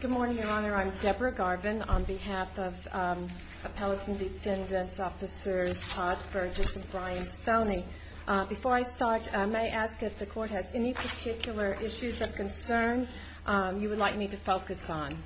Good morning, Your Honor. I'm Deborah Garvin on behalf of Appellate and Defendant Officers Todd Burgess and Brian Stoney. Before I start, may I ask if the Court has any particular issues of concern you would like me to focus on?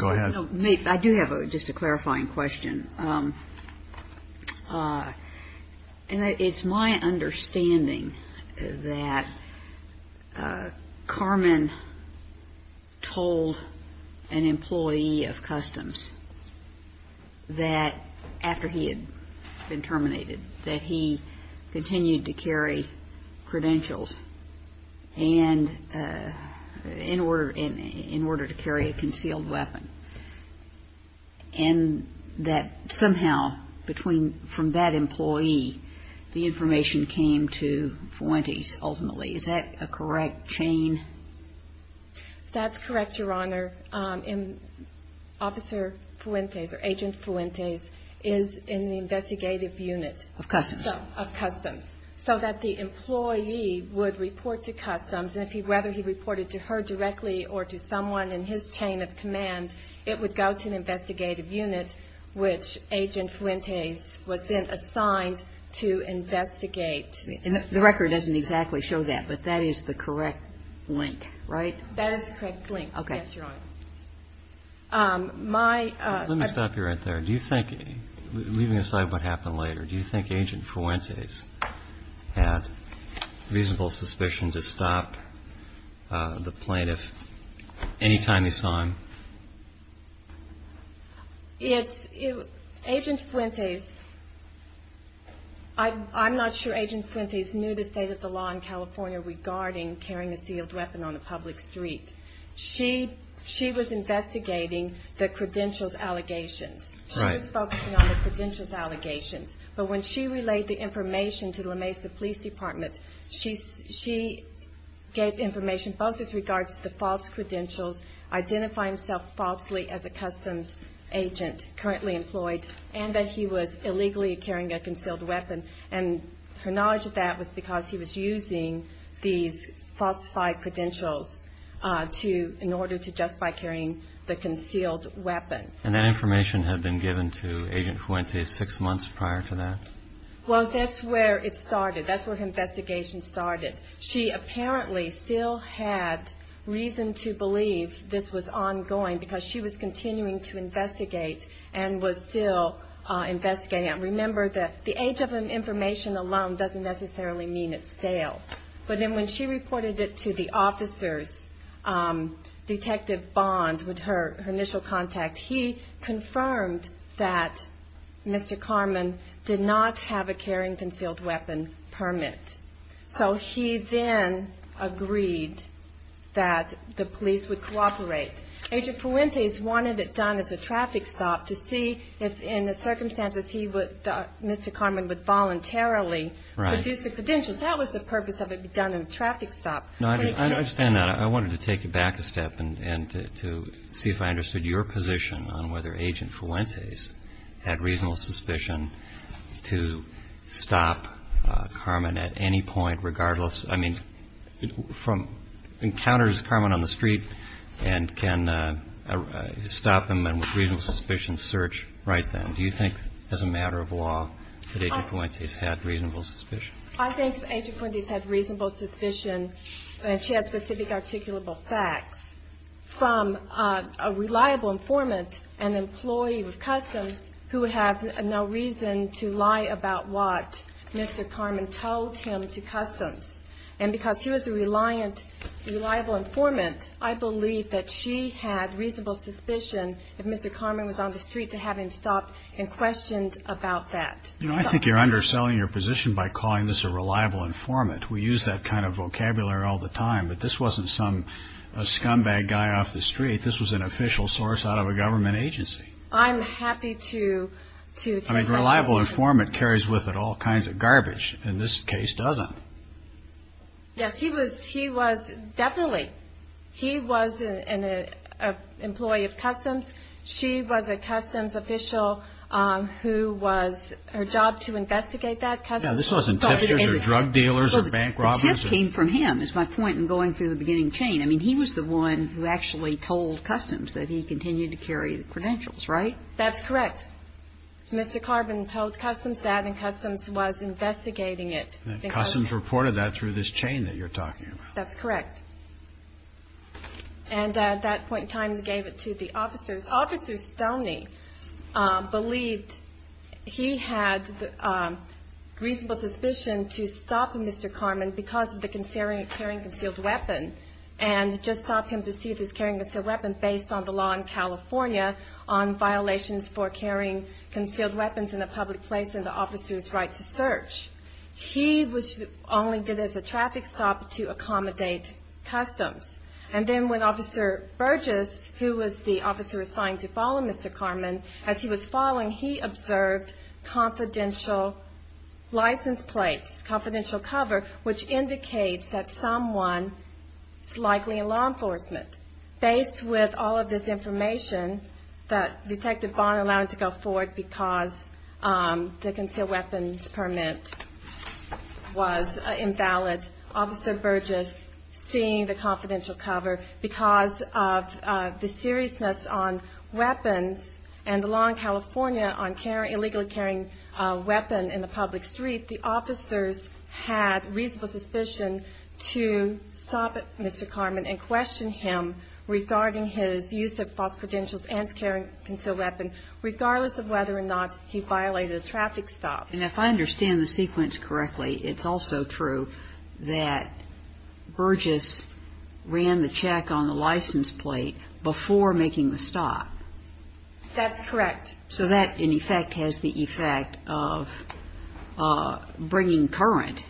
I do have a clarifying question. It's my understanding that Carmen told an employee of Customs that after he had been terminated that he continued to carry credentials in order to carry a concealed weapon. And that somehow from that employee the information came to Fuentes ultimately. Is that a correct chain? That's correct, Your Honor. And Officer Fuentes or Agent Fuentes is in the investigative unit. Of Customs? Of Customs. So that the employee would report to Customs and whether he reported to her directly or to someone in his chain of command, it would go to an investigative unit which Agent Fuentes was then assigned to investigate. And the record doesn't exactly show that, but that is the correct link, right? That is the correct link, yes, Your Honor. Okay. My ---- Let me stop you right there. Do you think, leaving aside what happened later, do you think Agent Fuentes had reasonable suspicion to stop the plaintiff any time he saw him? Agent Fuentes, I'm not sure Agent Fuentes knew the state of the law in California regarding carrying a sealed weapon on the public street. She was investigating the credentials allegations. Right. She was focusing on the credentials allegations, but when she relayed the information to the La Mesa Police Department, she gave information both with regards to the false credentials, identifying himself falsely as a Customs agent currently employed, and that he was illegally carrying a concealed weapon. And her knowledge of that was because he was using these falsified credentials to, in order to justify carrying the concealed weapon. And that information had been given to Agent Fuentes six months prior to that? Well, that's where it started. That's where her investigation started. She apparently still had reason to believe this was ongoing because she was continuing to investigate and was still investigating. Remember that the age of the information alone doesn't necessarily mean it's stale. But then when she reported it to the officer's detective, Bond, with her initial contact, he confirmed that Mr. Carman did not have a carrying concealed weapon permit. So he then agreed that the police would cooperate. Agent Fuentes wanted it done as a traffic stop to see if, in the circumstances, Mr. Carman would voluntarily produce the credentials. That was the purpose of it being done in a traffic stop. I understand that. I wanted to take it back a step and to see if I understood your position on whether Agent Fuentes had reasonable suspicion to stop Carman at any point, regardless. I mean, encounters Carman on the street and can stop him and with reasonable suspicion search right then. Do you think, as a matter of law, that Agent Fuentes had reasonable suspicion? I think Agent Fuentes had reasonable suspicion, and she had specific articulable facts, from a reliable informant, an employee with customs, who had no reason to lie about what Mr. Carman told him to customs. And because he was a reliable informant, I believe that she had reasonable suspicion if Mr. Carman was on the street to have him stopped and questioned about that. You know, I think you're underselling your position by calling this a reliable informant. We use that kind of vocabulary all the time. But this wasn't some scumbag guy off the street. This was an official source out of a government agency. I'm happy to – I mean, reliable informant carries with it all kinds of garbage. And this case doesn't. Yes, he was definitely – he was an employee of customs. Now, this wasn't tipsters or drug dealers or bank robbers. The tip came from him, is my point in going through the beginning chain. I mean, he was the one who actually told customs that he continued to carry the credentials, right? That's correct. Mr. Carman told customs that, and customs was investigating it. Customs reported that through this chain that you're talking about. That's correct. And at that point in time, he gave it to the officers. Officer Stoney believed he had reasonable suspicion to stop Mr. Carman because of the carrying of a concealed weapon and just stopped him to see if he was carrying a concealed weapon based on the law in California on violations for carrying concealed weapons in a public place and the officer's right to search. He only did it as a traffic stop to accommodate customs. And then when Officer Burgess, who was the officer assigned to follow Mr. Carman, as he was following, he observed confidential license plates, confidential cover, which indicates that someone is likely in law enforcement. Based with all of this information that Detective Bonner allowed to go forward because the concealed weapons permit was invalid, Officer Burgess seeing the confidential cover because of the seriousness on weapons and the law in California on illegally carrying a weapon in the public street, the officers had reasonable suspicion to stop Mr. Carman and question him regarding his use of false credentials and his carrying of a concealed weapon, regardless of whether or not he violated a traffic stop. And if I understand the sequence correctly, it's also true that Burgess ran the check on the license plate before making the stop. That's correct. So that, in effect, has the effect of bringing current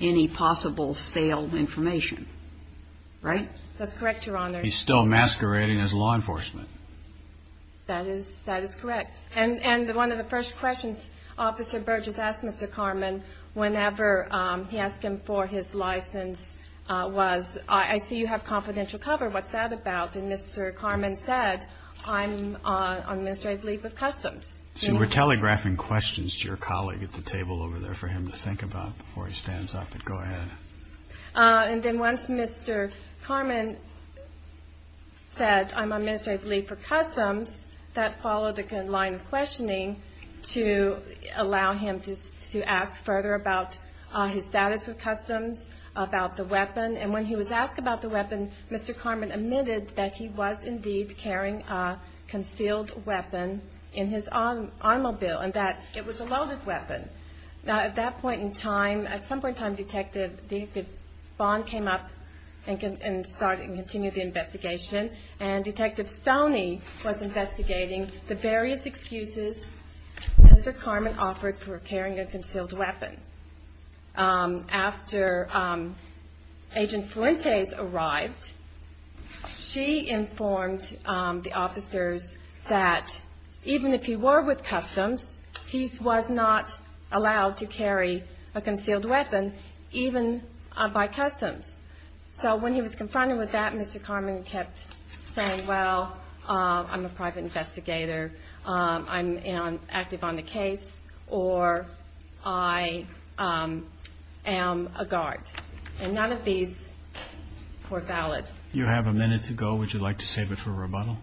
any possible sale information. Right? That's correct, Your Honor. He's still masquerading as law enforcement. That is correct. And one of the first questions Officer Burgess asked Mr. Carman whenever he asked him for his license was, I see you have confidential cover. What's that about? And Mr. Carman said, I'm on administrative leave of customs. See, we're telegraphing questions to your colleague at the table over there for him to think about before he stands up. Go ahead. And then once Mr. Carman said, I'm on administrative leave for customs, that followed a line of questioning to allow him to ask further about his status with customs, about the weapon. And when he was asked about the weapon, Mr. Carman admitted that he was indeed carrying a concealed weapon in his automobile and that it was a loaded weapon. Now, at that point in time, at some point in time, Detective Bond came up and continued the investigation, and Detective Stoney was investigating the various excuses Mr. Carman offered for carrying a concealed weapon. After Agent Fuentes arrived, she informed the officers that even if he were with customs, he was not allowed to carry a concealed weapon, even by customs. So when he was confronted with that, Mr. Carman kept saying, well, I'm a private investigator. I'm active on the case, or I am a guard. And none of these were valid. You have a minute to go. Would you like to save it for rebuttal?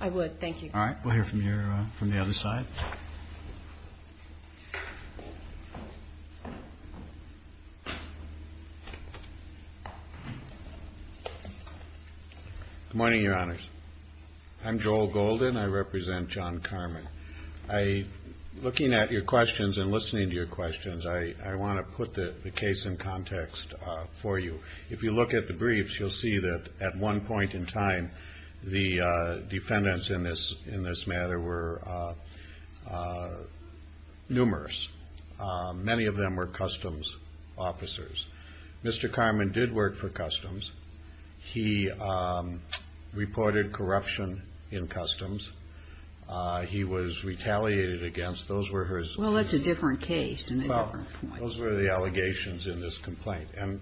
I would. Thank you. All right. We'll hear from the other side. Good morning, Your Honors. I'm Joel Golden. I represent John Carman. Looking at your questions and listening to your questions, I want to put the case in context for you. If you look at the briefs, you'll see that at one point in time, the defendants in this matter were numerous. Many of them were customs officers. Mr. Carman did work for customs. He reported corruption in customs. He was retaliated against. Those were his. Well, that's a different case and a different point. Those were the allegations in this complaint. And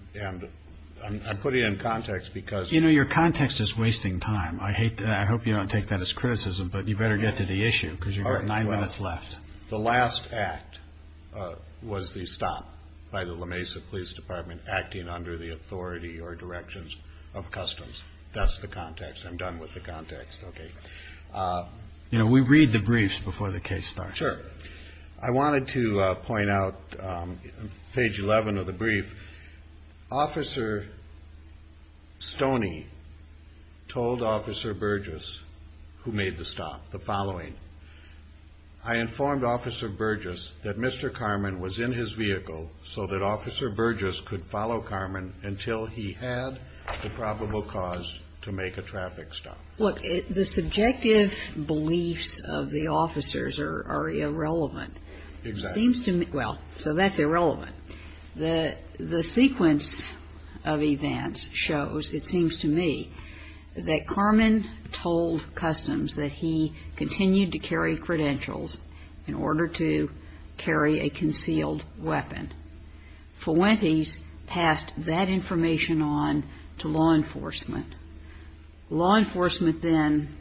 I'm putting it in context because. You know, your context is wasting time. I hope you don't take that as criticism, but you better get to the issue because you've got nine minutes left. The last act was the stop by the La Mesa Police Department acting under the authority or directions of customs. That's the context. I'm done with the context. Okay. You know, we read the briefs before the case starts. Sure. I wanted to point out page 11 of the brief. Officer Stoney told Officer Burgess, who made the stop, the following. I informed Officer Burgess that Mr. Carman was in his vehicle so that Officer Burgess could follow Carman until he had the probable cause to make a traffic stop. Look, the subjective beliefs of the officers are irrelevant. Exactly. It seems to me. Well, so that's irrelevant. The sequence of events shows, it seems to me, that Carman told customs that he continued to carry credentials in order to carry a concealed weapon. Fuentes passed that information on to law enforcement. Law enforcement then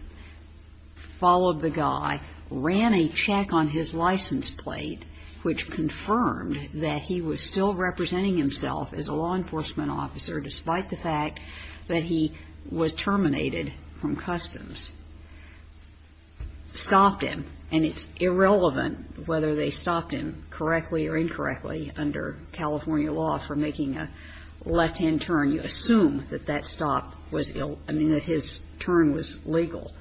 followed the guy, ran a check on his license plate, which confirmed that he was still representing himself as a law enforcement officer, despite the fact that he was terminated from customs. Stopped him, and it's irrelevant whether they stopped him correctly or incorrectly under California law for making a left-hand turn. You assume that that stop was ill – I mean, that his turn was legal.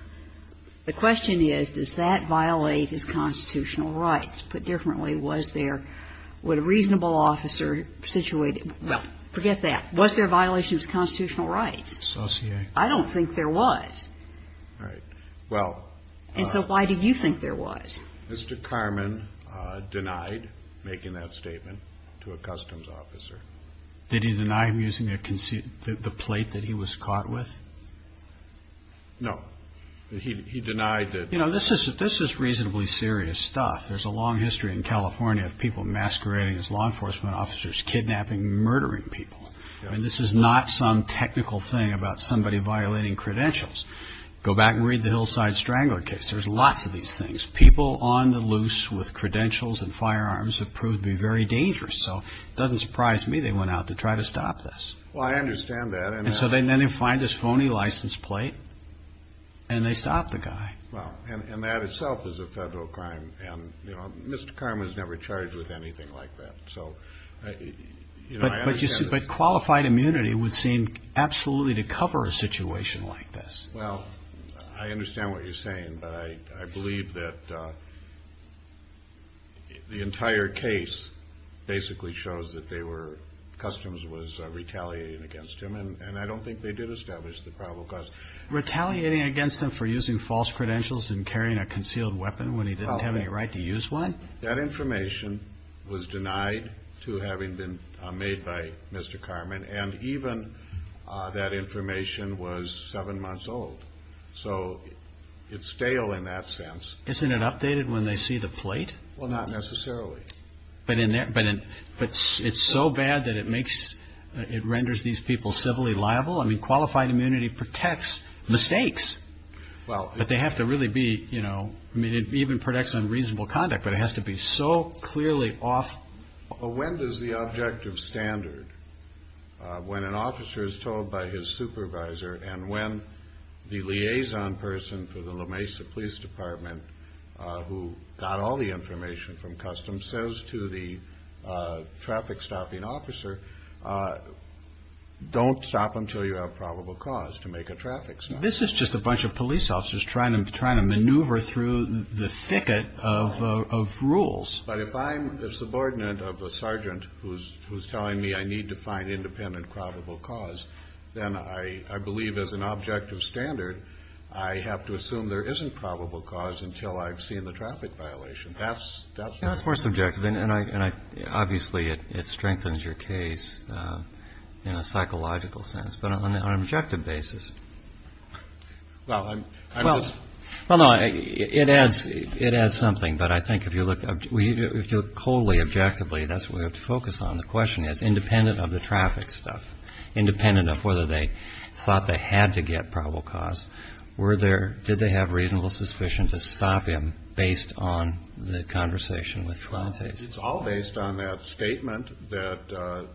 The question is, does that violate his constitutional rights? Put differently, was there – would a reasonable officer situated – well, forget that. Was there a violation of his constitutional rights? Associate. I don't think there was. All right. Well – And so why do you think there was? Mr. Carman denied making that statement to a customs officer. Did he deny him using the plate that he was caught with? No. He denied that – You know, this is reasonably serious stuff. There's a long history in California of people masquerading as law enforcement officers, kidnapping, murdering people. I mean, this is not some technical thing about somebody violating credentials. Go back and read the Hillside Strangler case. There's lots of these things. People on the loose with credentials and firearms have proved to be very dangerous. So it doesn't surprise me they went out to try to stop this. Well, I understand that. And so then they find this phony license plate and they stop the guy. Well, and that itself is a federal crime. And, you know, Mr. Carman was never charged with anything like that. So, you know, I understand that. But qualified immunity would seem absolutely to cover a situation like this. Well, I understand what you're saying. But I believe that the entire case basically shows that they were – customs was retaliating against him. And I don't think they did establish the probable cause. Retaliating against him for using false credentials and carrying a concealed weapon when he didn't have any right to use one? That information was denied to having been made by Mr. Carman. And even that information was seven months old. So it's stale in that sense. Isn't it updated when they see the plate? Well, not necessarily. But it's so bad that it renders these people civilly liable? I mean, qualified immunity protects mistakes. But they have to really be, you know – I mean, it even protects unreasonable conduct. But it has to be so clearly off. But when does the objective standard, when an officer is told by his supervisor and when the liaison person for the La Mesa Police Department, who got all the information from customs, says to the traffic-stopping officer, don't stop until you have probable cause to make a traffic stop? This is just a bunch of police officers trying to maneuver through the thicket of rules. But if I'm a subordinate of a sergeant who's telling me I need to find independent probable cause, then I believe, as an objective standard, I have to assume there isn't probable cause until I've seen the traffic violation. That's – That's more subjective. And obviously it strengthens your case in a psychological sense. But on an objective basis – Well, I'm just – Well, no. It adds something. But I think if you look – if you look wholly objectively, that's what we have to focus on. The question is, independent of the traffic stuff, independent of whether they thought they had to get probable cause, were there – did they have reasonable suspicion to stop him based on the conversation with Fuentes? It's all based on that statement that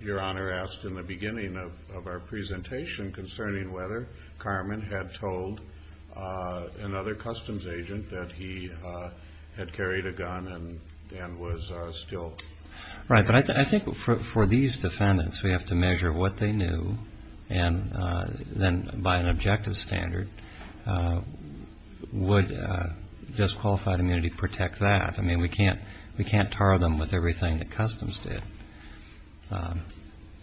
Your Honor asked in the beginning of our presentation concerning whether Carmen had told another customs agent that he had carried a gun and was still – Right. But I think for these defendants, we have to measure what they knew, and then by an objective standard, would disqualified immunity protect that? I mean, we can't – we can't tar them with everything that customs did.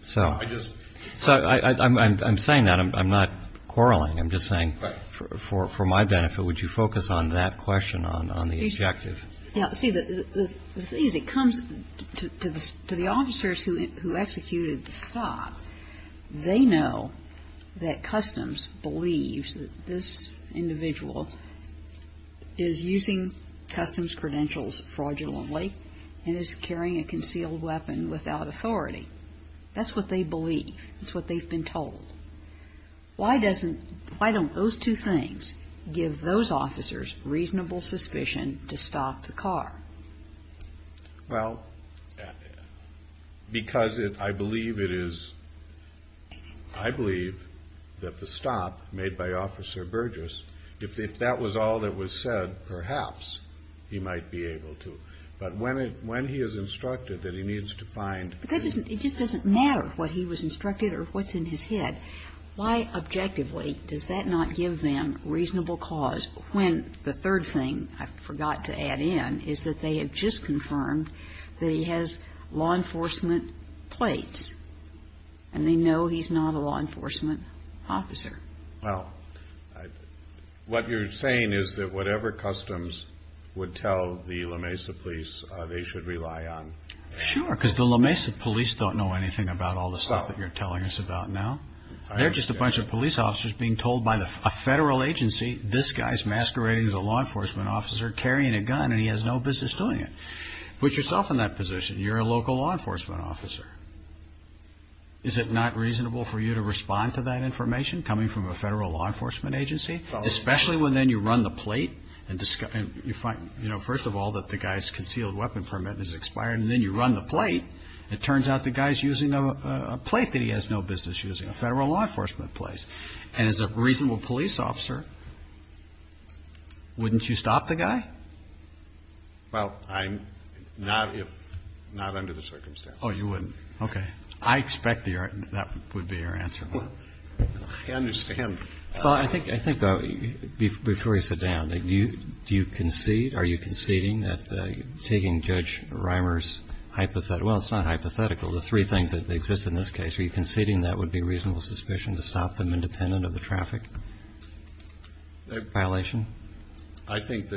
So – I just – So I'm saying that. I'm not quarreling. I'm just saying for my benefit, would you focus on that question on the objective? Now, see, the thing is, it comes to the officers who executed the stop. They know that customs believes that this individual is using customs credentials fraudulently and is carrying a concealed weapon without authority. That's what they believe. That's what they've been told. Why doesn't – why don't those two things give those officers reasonable suspicion to stop the car? Well, because I believe it is – I believe that the stop made by Officer Burgess, if that was all that was said, perhaps he might be able to. But when he is instructed that he needs to find – But that doesn't – it just doesn't matter what he was instructed or what's in his head. Why, objectively, does that not give them reasonable cause when the third thing, I forgot to add in, is that they have just confirmed that he has law enforcement plates and they know he's not a law enforcement officer? Well, what you're saying is that whatever customs would tell the La Mesa police, they should rely on them. Sure, because the La Mesa police don't know anything about all the stuff that you're telling us about now. They're just a bunch of police officers being told by a federal agency, this guy's masquerading as a law enforcement officer carrying a gun and he has no business doing it. Put yourself in that position. You're a local law enforcement officer. Is it not reasonable for you to respond to that information coming from a federal law enforcement agency, Well, I'm not under the circumstance. Oh, you wouldn't? Okay. I expect that would be your answer. I understand. Well, I think, though, before you sit down, do you concede? Okay. I expect that would be your answer. I understand. Well, it's not hypothetical. The three things that exist in this case, are you conceding that would be reasonable suspicion to stop them independent of the traffic violation? I think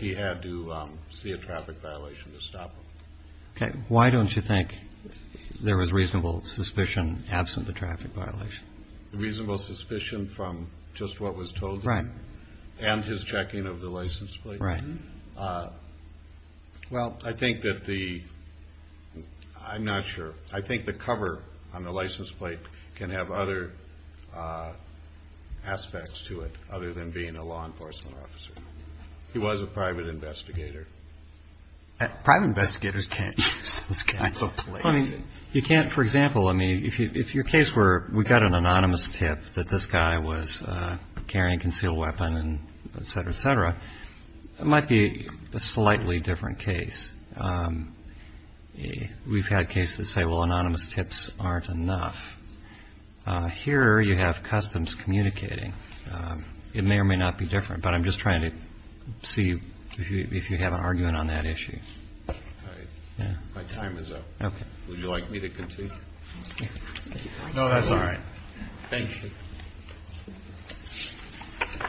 he had to see a traffic violation to stop them. Okay. Why don't you think there was reasonable suspicion absent the traffic violation? Reasonable suspicion from just what was told to him. Right. And his checking of the license plate. Right. Well, I think that the, I'm not sure. I think the cover on the license plate can have other aspects to it other than being a law enforcement officer. He was a private investigator. Private investigators can't use those kinds of plates. For example, if your case were we got an anonymous tip that this guy was carrying a concealed weapon, et cetera, et cetera, it might be a slightly different case. We've had cases that say, well, anonymous tips aren't enough. Here you have customs communicating. It may or may not be different, but I'm just trying to see if you have an argument on that issue. My time is up. Okay. Would you like me to continue? No, that's all right. Thank you.